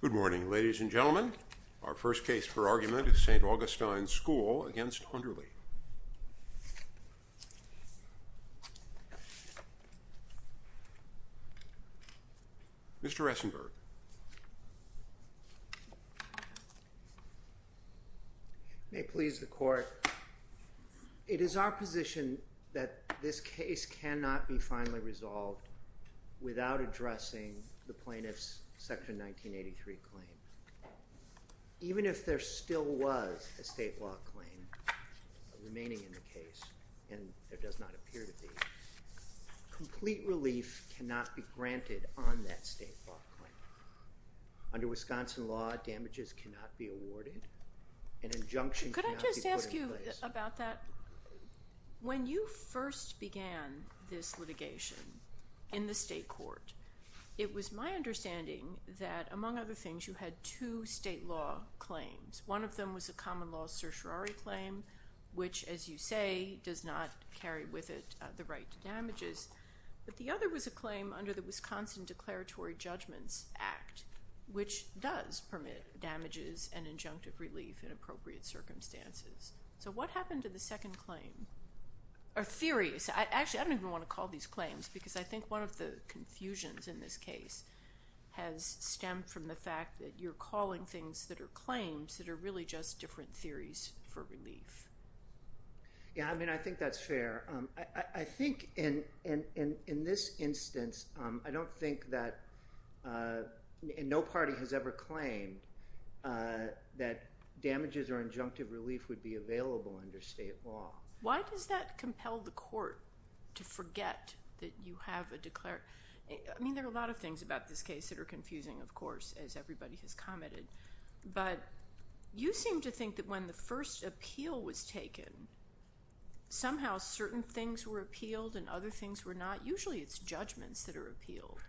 Good morning, ladies and gentlemen. Our first case for argument is St. Augustine School v. Underly. It is our position that this case cannot be finally resolved without addressing the plaintiff's Section 1983 claim. Even if there still was a state law claim remaining in the case, and there does not appear to be, complete relief cannot be granted on that state law claim. Under Wisconsin law, damages cannot be awarded. An injunction cannot be put in place. Could I just ask you about that? When you first began this litigation in the state court, it was my understanding that, among other things, you had two state law claims. One of them was a common law certiorari claim, which, as you say, does not carry with it the right to damages. But the other was a claim under the Wisconsin Declaratory Judgments Act, which does permit damages and injunctive relief in appropriate circumstances. So what happened to the second claim? Actually, I don't even want to call these claims, because I think one of the confusions in this case has stemmed from the fact that you're calling things that are claims that are really just different theories for relief. Yeah, I mean, I think that's fair. I think in this instance, I don't think that no party has ever claimed that damages or injunctive relief would be available under state law. Why does that compel the court to forget that you have a declared? I mean, there are a lot of things about this case that are confusing, of course, as everybody has commented. But you seem to think that when the first appeal was taken, somehow certain things were appealed and other things were not. Usually it's judgments that are appealed.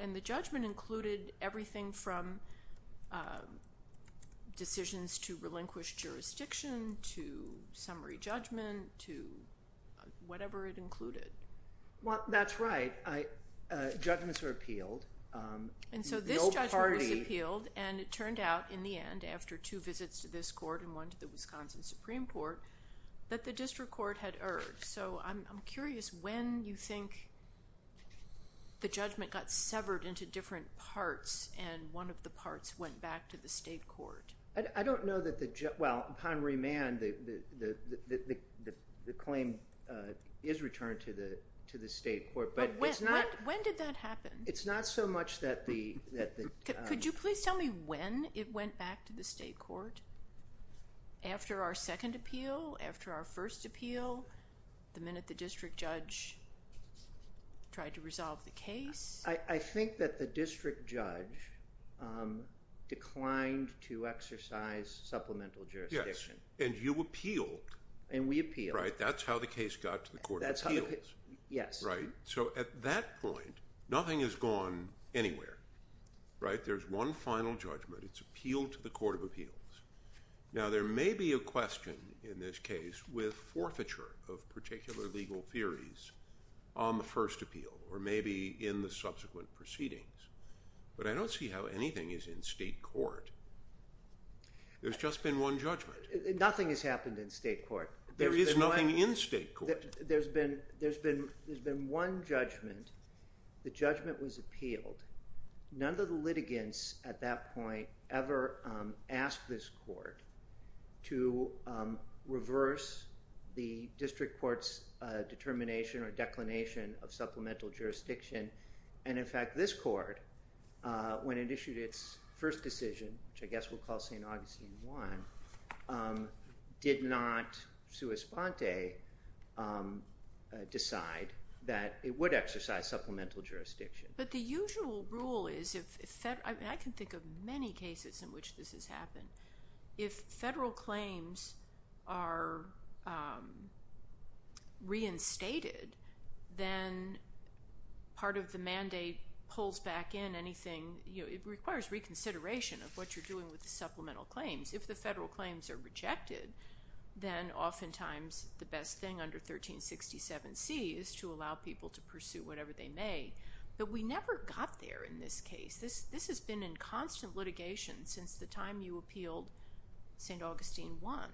And the judgment included everything from decisions to relinquish jurisdiction to summary judgment to whatever it included. Well, that's right. Judgments were appealed. And so this judgment was appealed, and it turned out in the end, after two visits to this court and one to the Wisconsin Supreme Court, that the district court had erred. So I'm curious when you think the judgment got severed into different parts and one of the parts went back to the state court. I don't know that the—well, upon remand, the claim is returned to the state court. But when did that happen? It's not so much that the— Could you please tell me when it went back to the state court? After our second appeal? After our first appeal? The minute the district judge tried to resolve the case? I think that the district judge declined to exercise supplemental jurisdiction. Yes. And you appealed. And we appealed. Right. That's how the case got to the Court of Appeals. Yes. Right. So at that point, nothing has gone anywhere. Right? There's one final judgment. It's appealed to the Court of Appeals. Now, there may be a question in this case with forfeiture of particular legal theories on the first appeal or maybe in the subsequent proceedings, but I don't see how anything is in state court. There's just been one judgment. Nothing has happened in state court. There is nothing in state court. There's been one judgment. The judgment was appealed. None of the litigants at that point ever asked this court to reverse the district court's determination or declination of supplemental jurisdiction. And in fact, this court, when it issued its first decision, which I guess we'll call St. Augustine I, did not sua sponte decide that it would exercise supplemental jurisdiction. But the usual rule is, and I can think of many cases in which this has happened, if federal claims are reinstated, then part of the mandate pulls back in anything. It requires reconsideration of what you're doing with the supplemental claims. If the federal claims are rejected, then oftentimes the best thing under 1367C is to allow people to pursue whatever they may. But we never got there in this case. This has been in constant litigation since the time you appealed St. Augustine I.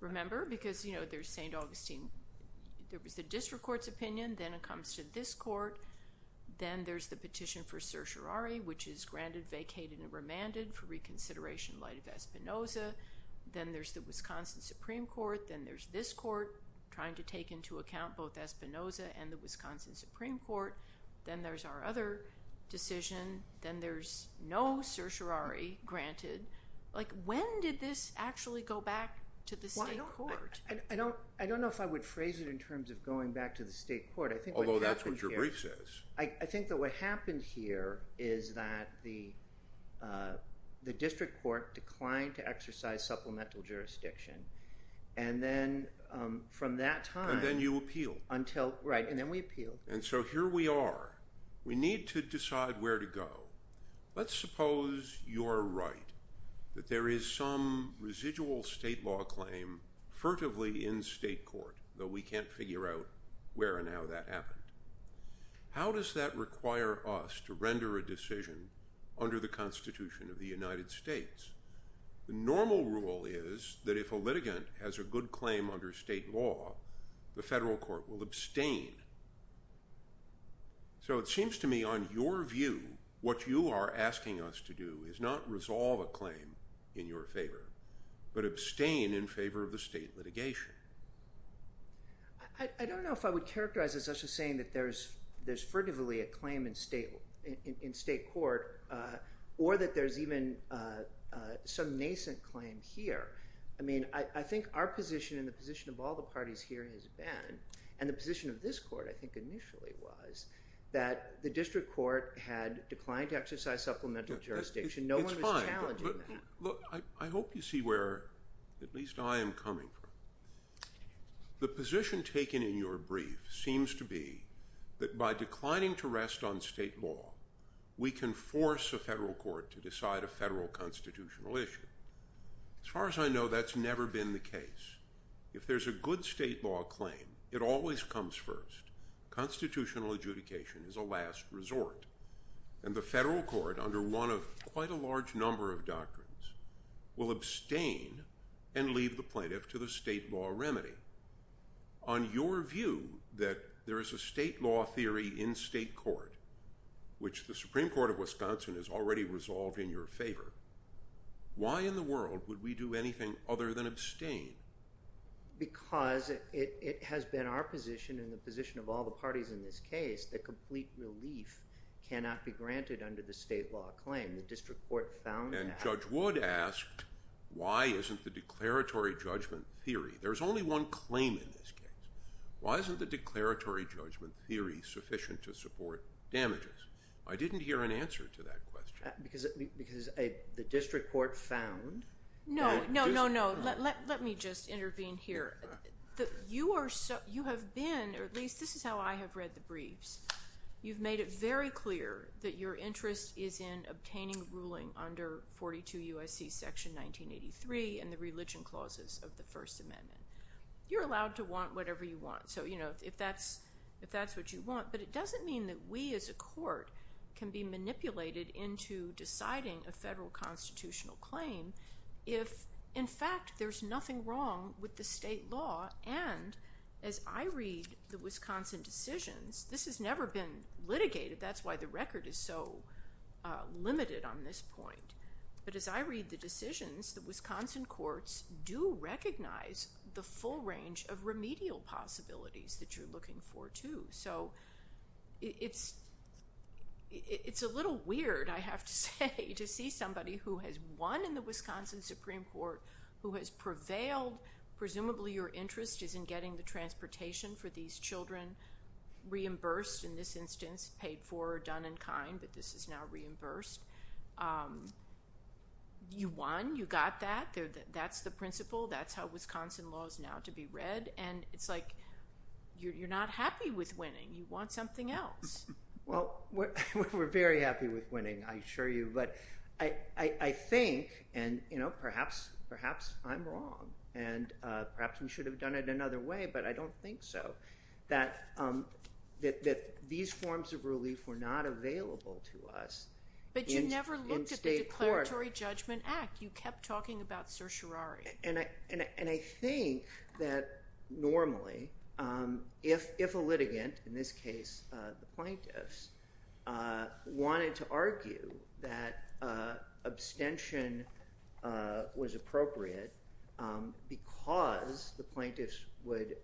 Remember? Because there's St. Augustine. There was the district court's opinion. Then it comes to this court. Then there's the petition for certiorari, which is granted, vacated, and remanded for reconsideration in light of Espinoza. Then there's the Wisconsin Supreme Court. Then there's this court trying to take into account both Espinoza and the Wisconsin Supreme Court. Then there's our other decision. Then there's no certiorari granted. When did this actually go back to the state court? I don't know if I would phrase it in terms of going back to the state court. Although that's what your brief says. I think that what happened here is that the district court declined to exercise supplemental jurisdiction. Then from that time- Then you appealed. Right. Then we appealed. Here we are. We need to decide where to go. Let's suppose you're right, that there is some residual state law claim furtively in state court, though we can't figure out where and how that happened. How does that require us to render a decision under the Constitution of the United States? The normal rule is that if a litigant has a good claim under state law, the federal court will abstain. It seems to me, on your view, what you are asking us to do is not resolve a claim in your favor, but abstain in favor of the state litigation. I don't know if I would characterize this as just saying that there's furtively a claim in state court or that there's even some nascent claim here. I think our position and the position of all the parties here has been, and the position of this court I think initially was, that the district court had declined to exercise supplemental jurisdiction. No one was challenging that. It's fine. Look, I hope you see where at least I am coming from. The position taken in your brief seems to be that by declining to rest on state law, we can force a federal court to decide a federal constitutional issue. As far as I know, that's never been the case. If there's a good state law claim, it always comes first. Constitutional adjudication is a last resort. And the federal court, under one of quite a large number of doctrines, will abstain and leave the plaintiff to the state law remedy. On your view that there is a state law theory in state court, which the Supreme Court of Wisconsin has already resolved in your favor, why in the world would we do anything other than abstain? Because it has been our position and the position of all the parties in this case that complete relief cannot be granted under the state law claim. And Judge Wood asked, why isn't the declaratory judgment theory? There's only one claim in this case. Why isn't the declaratory judgment theory sufficient to support damages? I didn't hear an answer to that question. Because the district court found... No, no, no, no. Let me just intervene here. You have been, or at least this is how I have read the briefs, you've made it very clear that your interest is in obtaining ruling under 42 UIC section 1983 and the religion clauses of the First Amendment. You're allowed to want whatever you want. So, you know, if that's what you want. But it doesn't mean that we as a court can be manipulated into deciding a federal constitutional claim if, in fact, there's nothing wrong with the state law. And as I read the Wisconsin decisions, this has never been litigated. That's why the record is so limited on this point. But as I read the decisions, the Wisconsin courts do recognize the full range of remedial possibilities that you're looking for, too. So it's a little weird, I have to say, to see somebody who has won in the Wisconsin Supreme Court, who has prevailed, presumably your interest is in getting the four done in kind, but this is now reimbursed. You won. You got that. That's the principle. That's how Wisconsin law is now to be read. And it's like you're not happy with winning. You want something else. Well, we're very happy with winning, I assure you. But I think, and perhaps I'm wrong, and perhaps we should have done it another way, but I don't think so, that these forms of relief were not available to us in state court. But you never looked at the Declaratory Judgment Act. You kept talking about certiorari. And I think that normally, if a litigant, in this case the plaintiffs, wanted to argue that abstention was appropriate because the plaintiffs would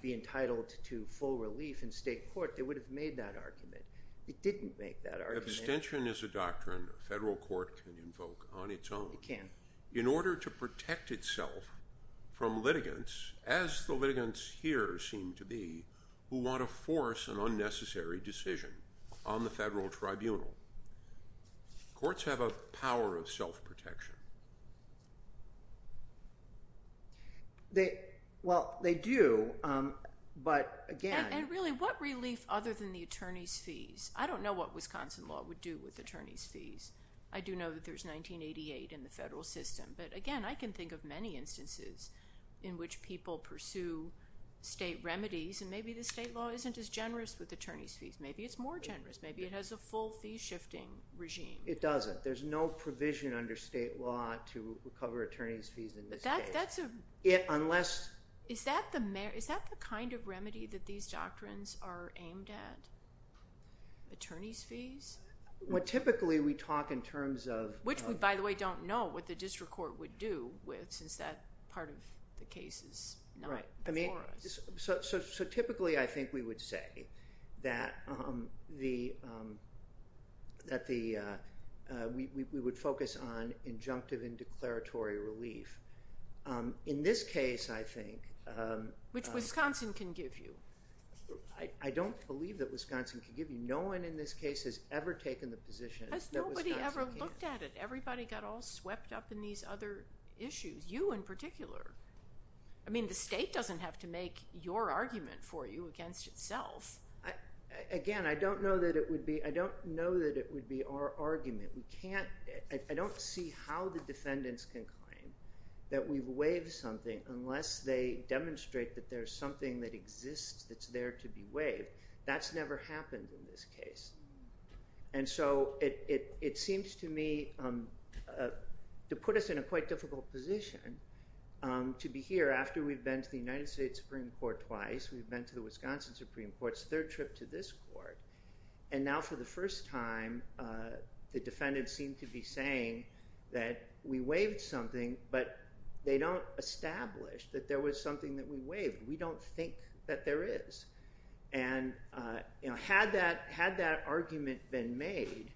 be entitled to full relief in state court, they would have made that argument. It didn't make that argument. Abstention is a doctrine a federal court can invoke on its own. It can. In order to protect itself from litigants, as the litigants here seem to be, who want to force an unnecessary decision on the federal tribunal, courts have a power of self-protection. Well, they do, but again— And really, what relief other than the attorney's fees? I don't know what Wisconsin law would do with attorney's fees. I do know that there's 1988 in the federal system. But again, I can think of many instances in which people pursue state remedies, and maybe the state law isn't as generous with attorney's fees. Maybe it's more generous. Maybe it has a full fee-shifting regime. It doesn't. There's no provision under state law to cover attorney's fees in this case. But that's a— Unless— Is that the kind of remedy that these doctrines are aimed at? Attorney's fees? Well, typically we talk in terms of— Which we, by the way, don't know what the district court would do with, since that part of the case is not before us. So typically, I think we would say that we would focus on injunctive and declaratory relief. In this case, I think— Which Wisconsin can give you. I don't believe that Wisconsin can give you. No one in this case has ever taken the position that Wisconsin can. Has nobody ever looked at it? Everybody got all swept up in these other issues, you in particular. I mean, the state doesn't have to make your argument for you against itself. Again, I don't know that it would be our argument. We can't—I don't see how the defendants can claim that we've waived something unless they demonstrate that there's something that exists that's there to be waived. That's never happened in this case. And so it seems to me to put us in a quite difficult position to be here after we've been to the United States Supreme Court twice. We've been to the Wisconsin Supreme Court's third trip to this court. And now for the first time, the defendants seem to be saying that we waived something, but they don't establish that there was something that we waived. We don't think that there is. And had that argument been made,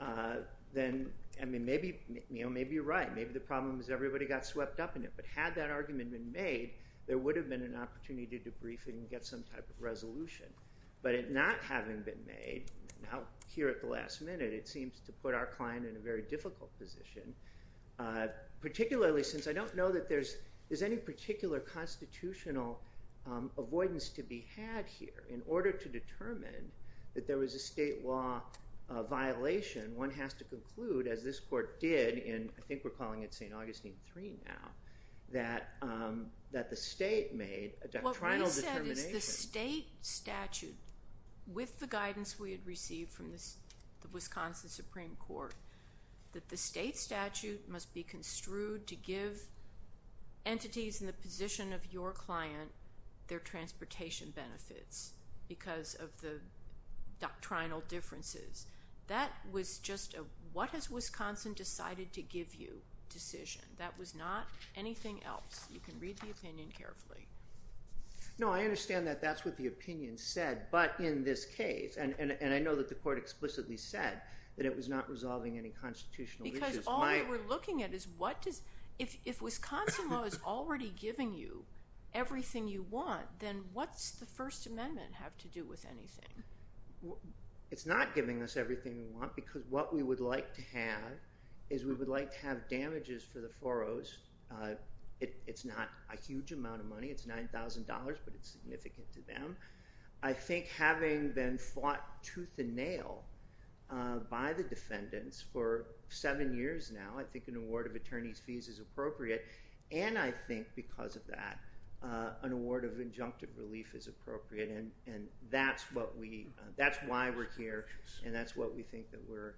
then maybe you're right. Maybe the problem is everybody got swept up in it. But had that argument been made, there would have been an opportunity to debrief and get some type of resolution. But it not having been made, now here at the last minute, it seems to put our client in a very difficult position, particularly since I don't know that there's any particular constitutional avoidance to be had here in order to determine that there was a state law violation. One has to conclude, as this court did in—I think we're calling it St. Augustine III now—that the state made a doctrinal determination. The state statute, with the guidance we had received from the Wisconsin Supreme Court, that the state statute must be construed to give entities in the position of your client their transportation benefits because of the doctrinal differences. That was just a, what has Wisconsin decided to give you, decision. That was not anything else. You can read the opinion carefully. No, I understand that that's what the opinion said, but in this case—and I know that the court explicitly said that it was not resolving any constitutional issues. Because all we were looking at is what does—if Wisconsin law is already giving you everything you want, then what's the First Amendment have to do with anything? It's not giving us everything we want because what we would like to have is we would like to have damages for the four Os. It's not a huge amount of money. It's $9,000, but it's significant to them. I think having been fought tooth and nail by the defendants for seven years now, I think an award of attorney's fees is appropriate. And I think because of that, an award of injunctive relief is appropriate, and that's what we—that's why we're here, and that's what we think that we're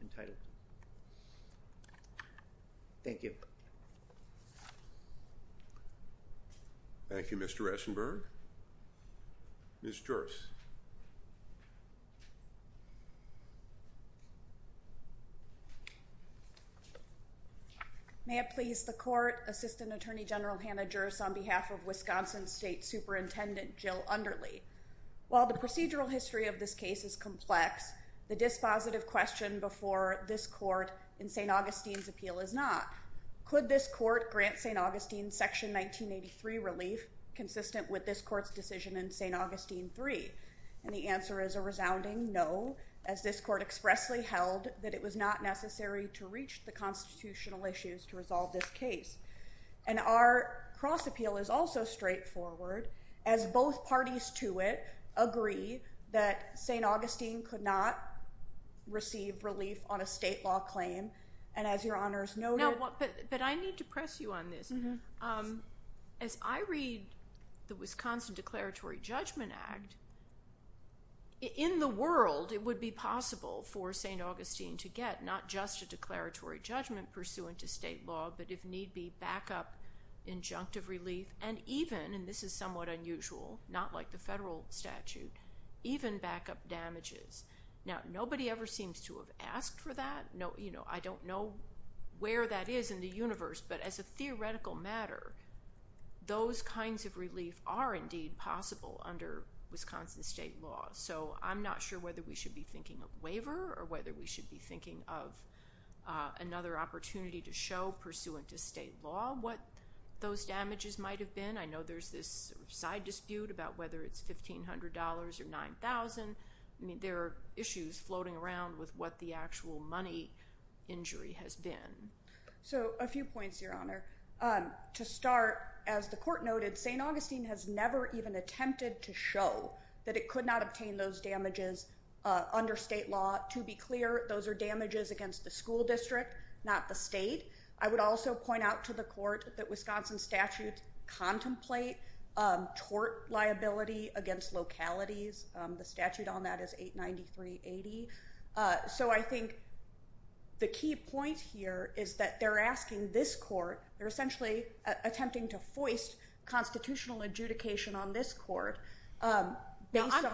entitled to. Thank you. Thank you, Mr. Essenberg. Ms. Juerz. May it please the Court, Assistant Attorney General Hannah Juerz, on behalf of Wisconsin State Superintendent Jill Underley. While the procedural history of this case is complex, the dispositive question before this Court in St. Augustine's appeal is not. Could this Court grant St. Augustine Section 1983 relief consistent with this Court's decision in St. Augustine III? And the answer is a resounding no, as this Court expressly held that it was not necessary to reach the constitutional issues to resolve this case. And our cross-appeal is also straightforward, as both parties to it agree that St. Augustine could not receive relief on a state law claim. And as Your Honors noted— But I need to press you on this. As I read the Wisconsin Declaratory Judgment Act, in the world it would be possible for St. Augustine to get not just a declaratory judgment pursuant to state law, but if need be, backup injunctive relief, and even—and this is somewhat unusual, not like the federal statute—even backup damages. Now, nobody ever seems to have asked for that. I don't know where that is in the universe, but as a theoretical matter, those kinds of relief are indeed possible under Wisconsin state law. So I'm not sure whether we should be thinking of waiver or whether we should be thinking of another opportunity to show, pursuant to state law, what those damages might have been. I know there's this side dispute about whether it's $1,500 or $9,000. I mean, there are issues floating around with what the actual money injury has been. So, a few points, Your Honor. To start, as the Court noted, St. Augustine has never even attempted to show that it could not obtain those damages under state law. To be clear, those are damages against the school district, not the state. I would also point out to the Court that Wisconsin statutes contemplate tort liability against localities. The statute on that is 89380. So I think the key point here is that they're asking this Court—they're essentially attempting to foist constitutional adjudication on this Court based on— It's under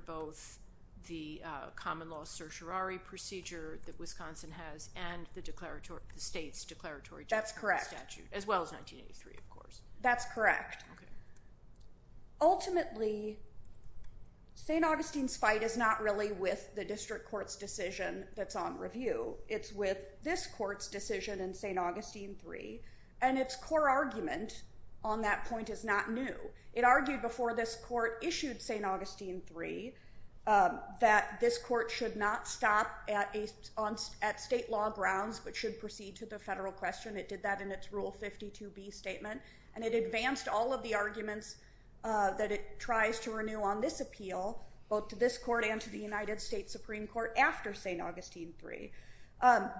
both the common law certiorari procedure that Wisconsin has and the state's declaratory general statute. That's correct. As well as 1983, of course. That's correct. Ultimately, St. Augustine's fight is not really with the district court's decision that's on review. It's with this Court's decision in St. Augustine III, and its core argument on that point is not new. It argued before this Court issued St. Augustine III that this Court should not stop at state law grounds but should proceed to the federal question. It did that in its Rule 52b statement, and it advanced all of the arguments that it tries to renew on this appeal, both to this Court and to the United States Supreme Court after St. Augustine III.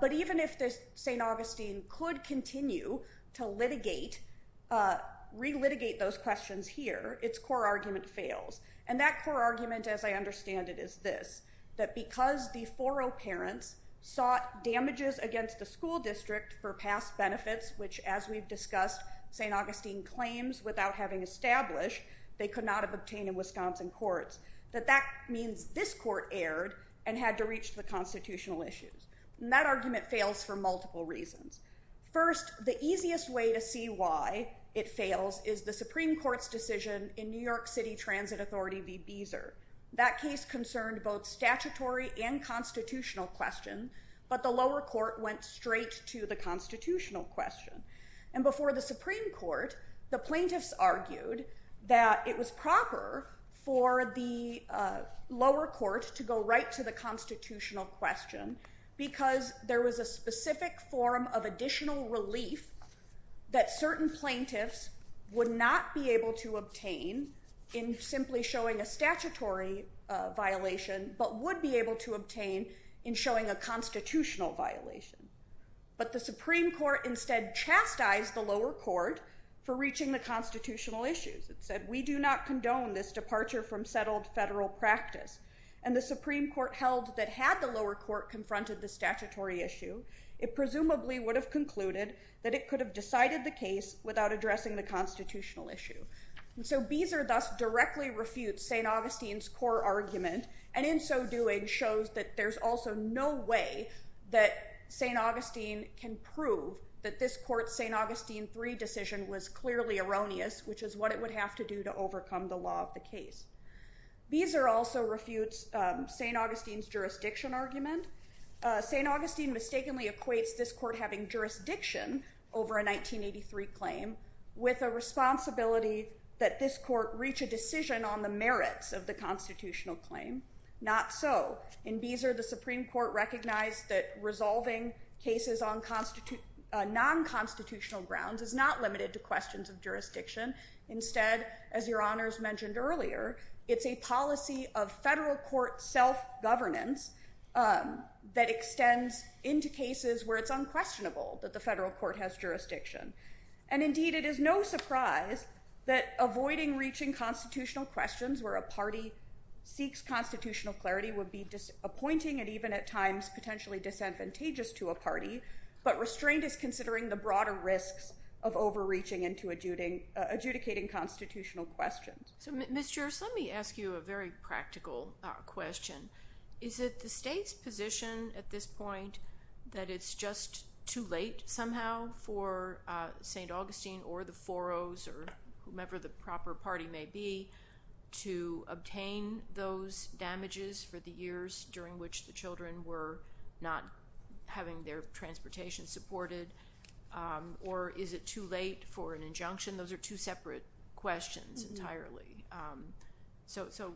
But even if St. Augustine could continue to litigate—relitigate those questions here, its core argument fails. And that core argument, as I understand it, is this, that because the 4-0 parents sought damages against the school district for past benefits, which, as we've discussed, St. Augustine claims without having established they could not have obtained in Wisconsin courts, that that means this Court erred and had to reach the constitutional issues. And that argument fails for multiple reasons. First, the easiest way to see why it fails is the Supreme Court's decision in New York City Transit Authority v. Beezer. That case concerned both statutory and constitutional question, but the lower court went straight to the constitutional question. And before the Supreme Court, the plaintiffs argued that it was proper for the lower court to go right to the constitutional question because there was a specific form of additional relief that certain plaintiffs would not be able to obtain in simply showing a statutory violation, but would be able to obtain in showing a constitutional violation. But the Supreme Court instead chastised the lower court for reaching the constitutional issues. It said, we do not condone this departure from settled federal practice. And the Supreme Court held that had the lower court confronted the statutory issue, it presumably would have concluded that it could have decided the case without addressing the constitutional issue. And so Beezer thus directly refutes St. Augustine's core argument, and in so doing shows that there's also no way that St. Augustine can prove that this court's St. Augustine III decision was clearly erroneous, which is what it would have to do to overcome the law of the case. Beezer also refutes St. Augustine's jurisdiction argument. St. Augustine mistakenly equates this court having jurisdiction over a 1983 claim with a responsibility that this court reach a decision on the merits of the constitutional claim. Not so. In Beezer, the Supreme Court recognized that resolving cases on non-constitutional grounds is not limited to questions of jurisdiction. Instead, as Your Honors mentioned earlier, it's a policy of federal court self-governance that extends into cases where it's unquestionable that the federal court has jurisdiction. And indeed, it is no surprise that avoiding reaching constitutional questions where a party seeks constitutional clarity would be disappointing and even at times potentially disadvantageous to a party, but restraint is considering the broader risks of overreaching into adjudicating constitutional questions. So Ms. Juris, let me ask you a very practical question. Is it the state's position at this point that it's just too late somehow for St. Augustine or the Foros or whomever the proper party may be to obtain those damages for the years during which the children were not having their transportation supported? Or is it too late for an injunction? Those are two separate questions entirely. So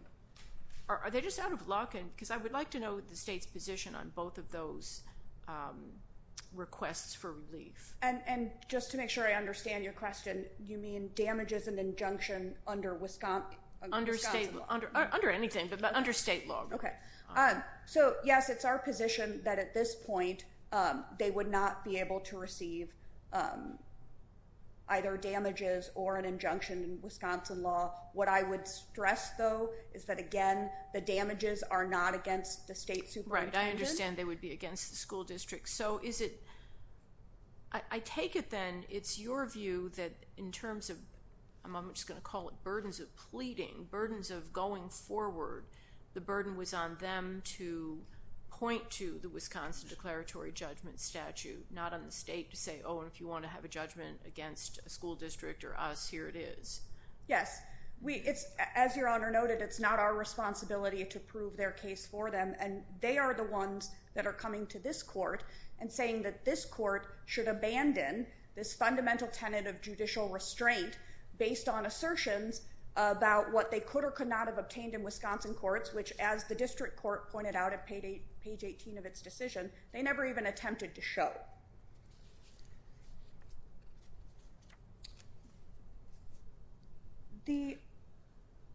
are they just out of luck? Because I would like to know the state's position on both of those requests for relief. And just to make sure I understand your question, you mean damages and injunction under Wisconsin law? Under anything, but under state law. Okay. So yes, it's our position that at this point they would not be able to receive either damages or an injunction in Wisconsin law What I would stress, though, is that, again, the damages are not against the state superintendent. Right. I understand they would be against the school district. So is it – I take it then it's your view that in terms of – I'm just going to call it burdens of pleading, burdens of going forward, the burden was on them to point to the Wisconsin declaratory judgment statute, not on the state to say, oh, if you want to have a judgment against a school district or us, here it is. Yes. As Your Honor noted, it's not our responsibility to prove their case for them. And they are the ones that are coming to this court and saying that this court should abandon this fundamental tenet of judicial restraint based on assertions about what they could or could not have obtained in Wisconsin courts, which as the district court pointed out at page 18 of its decision, they never even attempted to show.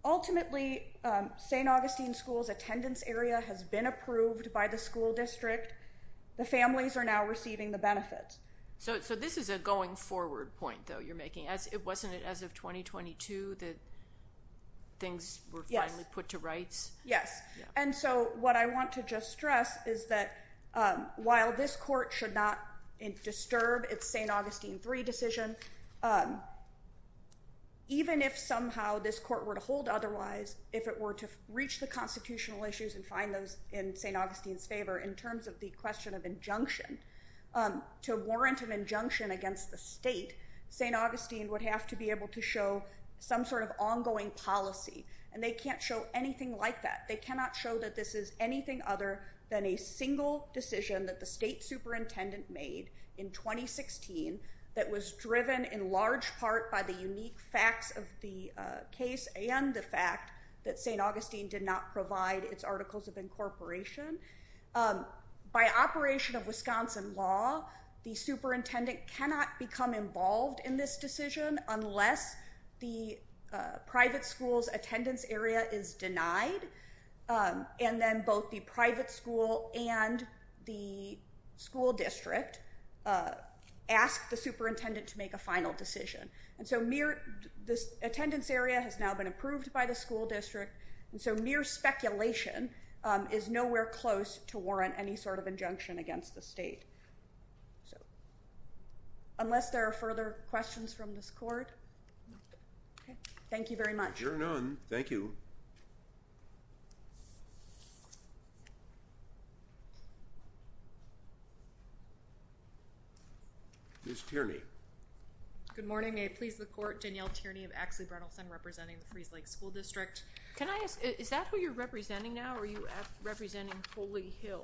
Ultimately, St. Augustine School's attendance area has been approved by the school district. The families are now receiving the benefits. So this is a going forward point, though, you're making. Wasn't it as of 2022 that things were finally put to rights? Yes. And so what I want to just stress is that while this court should not disturb its St. Augustine III decision, even if somehow this court were to hold otherwise, if it were to reach the constitutional issues and find those in St. Augustine's favor in terms of the question of injunction to warrant an injunction against the state, St. Augustine would have to be able to show some sort of ongoing policy. And they can't show anything like that. They cannot show that this is anything other than a single decision that the state superintendent made in 2016 that was driven in large part by the unique facts of the case and the fact that St. Augustine did not provide its articles of incorporation by operation of Wisconsin law. The superintendent cannot become involved in this decision unless the private school's attendance area is denied. And then both the private school and the school district ask the superintendent to make a final decision. And so mere this attendance area has now been approved by the school district. And so mere speculation is nowhere close to warrant any sort of injunction against the state. So. Unless there are further questions from this court. OK, thank you very much. Thank you. Ms. Tierney. Good morning. I please the court. Danielle Tierney of Axley-Brennelson representing the Freese Lake School District. Can I ask, is that who you're representing now? Are you representing Holy Hill?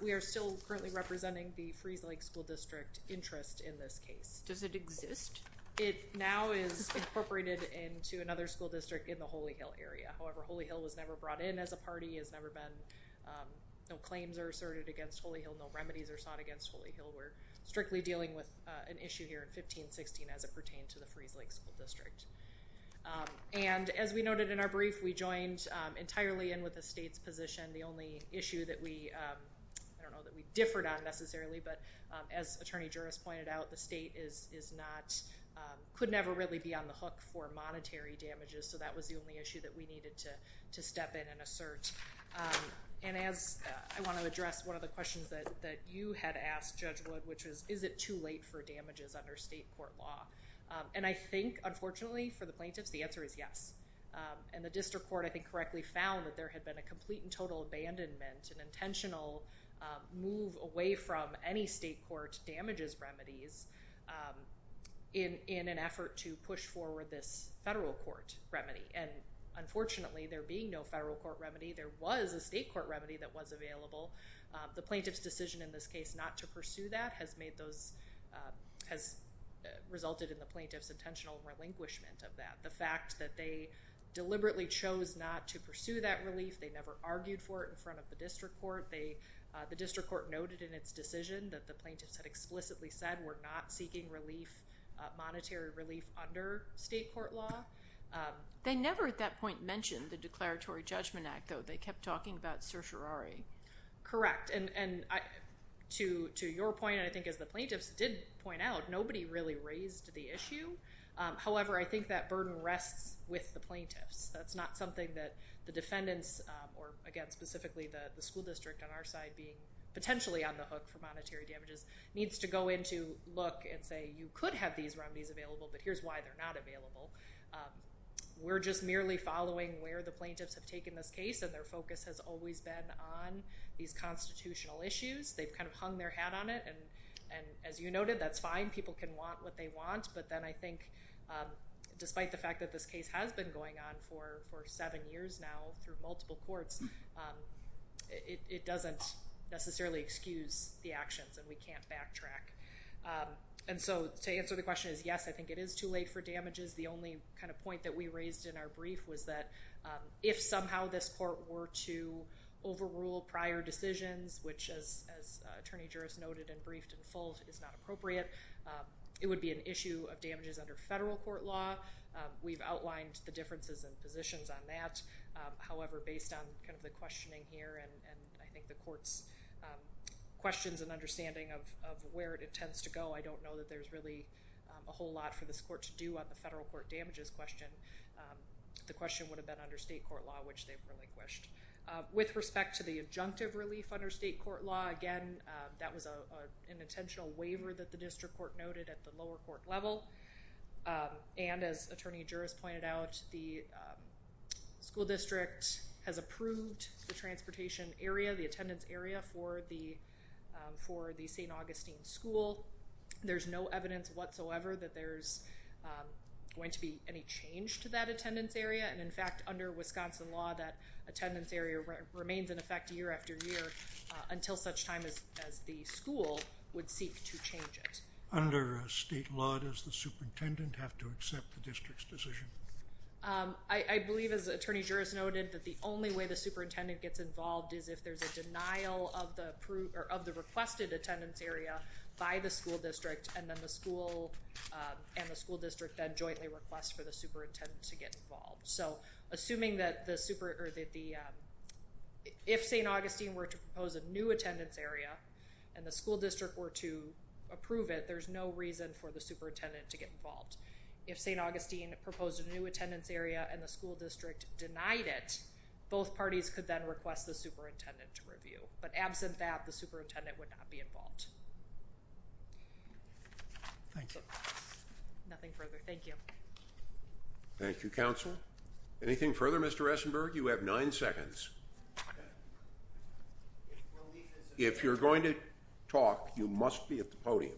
We are still currently representing the Freese Lake School District interest in this case. Does it exist? It now is incorporated into another school district in the Holy Hill area. However, Holy Hill was never brought in as a party, has never been. No claims are asserted against Holy Hill. No remedies are sought against Holy Hill. We're strictly dealing with an issue here in 15-16 as it pertained to the Freese Lake School District. And as we noted in our brief, we joined entirely in with the state's position. The only issue that we, I don't know, that we differed on necessarily, but as Attorney Juris pointed out, the state is not, could never really be on the hook for monetary damages. So that was the only issue that we needed to step in and assert. And as I want to address one of the questions that you had asked, Judge Wood, which is, is it too late for damages under state court law? And I think, unfortunately, for the plaintiffs, the answer is yes. And the district court, I think, correctly found that there had been a complete and total abandonment, an intentional move away from any state court damages remedies in an effort to push forward this federal court remedy. And unfortunately, there being no federal court remedy, there was a state court remedy that was available. The plaintiff's decision in this case not to pursue that has made those, has resulted in the plaintiff's intentional relinquishment of that. The fact that they deliberately chose not to pursue that relief, they never argued for it in front of the district court. The district court noted in its decision that the plaintiffs had explicitly said, we're not seeking relief, monetary relief, under state court law. They never at that point mentioned the Declaratory Judgment Act, though. They kept talking about certiorari. Correct. And to your point, and I think as the plaintiffs did point out, nobody really raised the issue. However, I think that burden rests with the plaintiffs. That's not something that the defendants, or again, specifically the school district on our side, being potentially on the hook for monetary damages, needs to go in to look and say, you could have these remedies available, but here's why they're not available. We're just merely following where the plaintiffs have taken this case, and their focus has always been on these constitutional issues. They've kind of hung their hat on it, and as you noted, that's fine. A lot of people can want what they want, but then I think, despite the fact that this case has been going on for seven years now through multiple courts, it doesn't necessarily excuse the actions, and we can't backtrack. And so to answer the question is, yes, I think it is too late for damages. The only kind of point that we raised in our brief was that if somehow this court were to overrule prior decisions, which, as Attorney Juris noted and briefed in full, is not appropriate, it would be an issue of damages under federal court law. We've outlined the differences in positions on that. However, based on kind of the questioning here, and I think the court's questions and understanding of where it intends to go, I don't know that there's really a whole lot for this court to do on the federal court damages question. The question would have been under state court law, which they've relinquished. With respect to the adjunctive relief under state court law, again, that was an intentional waiver that the district court noted at the lower court level. And as Attorney Juris pointed out, the school district has approved the transportation area, the attendance area for the St. Augustine school. There's no evidence whatsoever that there's going to be any change to that attendance area. And, in fact, under Wisconsin law, that attendance area remains in effect year after year until such time as the school would seek to change it. Under state law, does the superintendent have to accept the district's decision? I believe, as Attorney Juris noted, that the only way the superintendent gets involved is if there's a denial of the requested attendance area by the school district, and then the school and the school district then jointly request for the superintendent to get involved. So assuming that if St. Augustine were to propose a new attendance area and the school district were to approve it, there's no reason for the superintendent to get involved. If St. Augustine proposed a new attendance area and the school district denied it, but absent that, the superintendent would not be involved. Thank you. Nothing further. Thank you. Thank you, counsel. Anything further, Mr. Esenberg? You have nine seconds. If you're going to talk, you must be at the podium.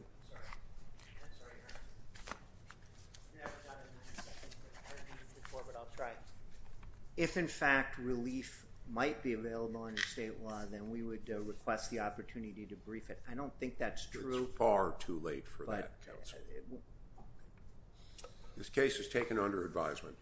If, in fact, relief might be available under state law, then we would request the opportunity to brief it. I don't think that's true. It's far too late for that, counsel. This case is taken under advisement.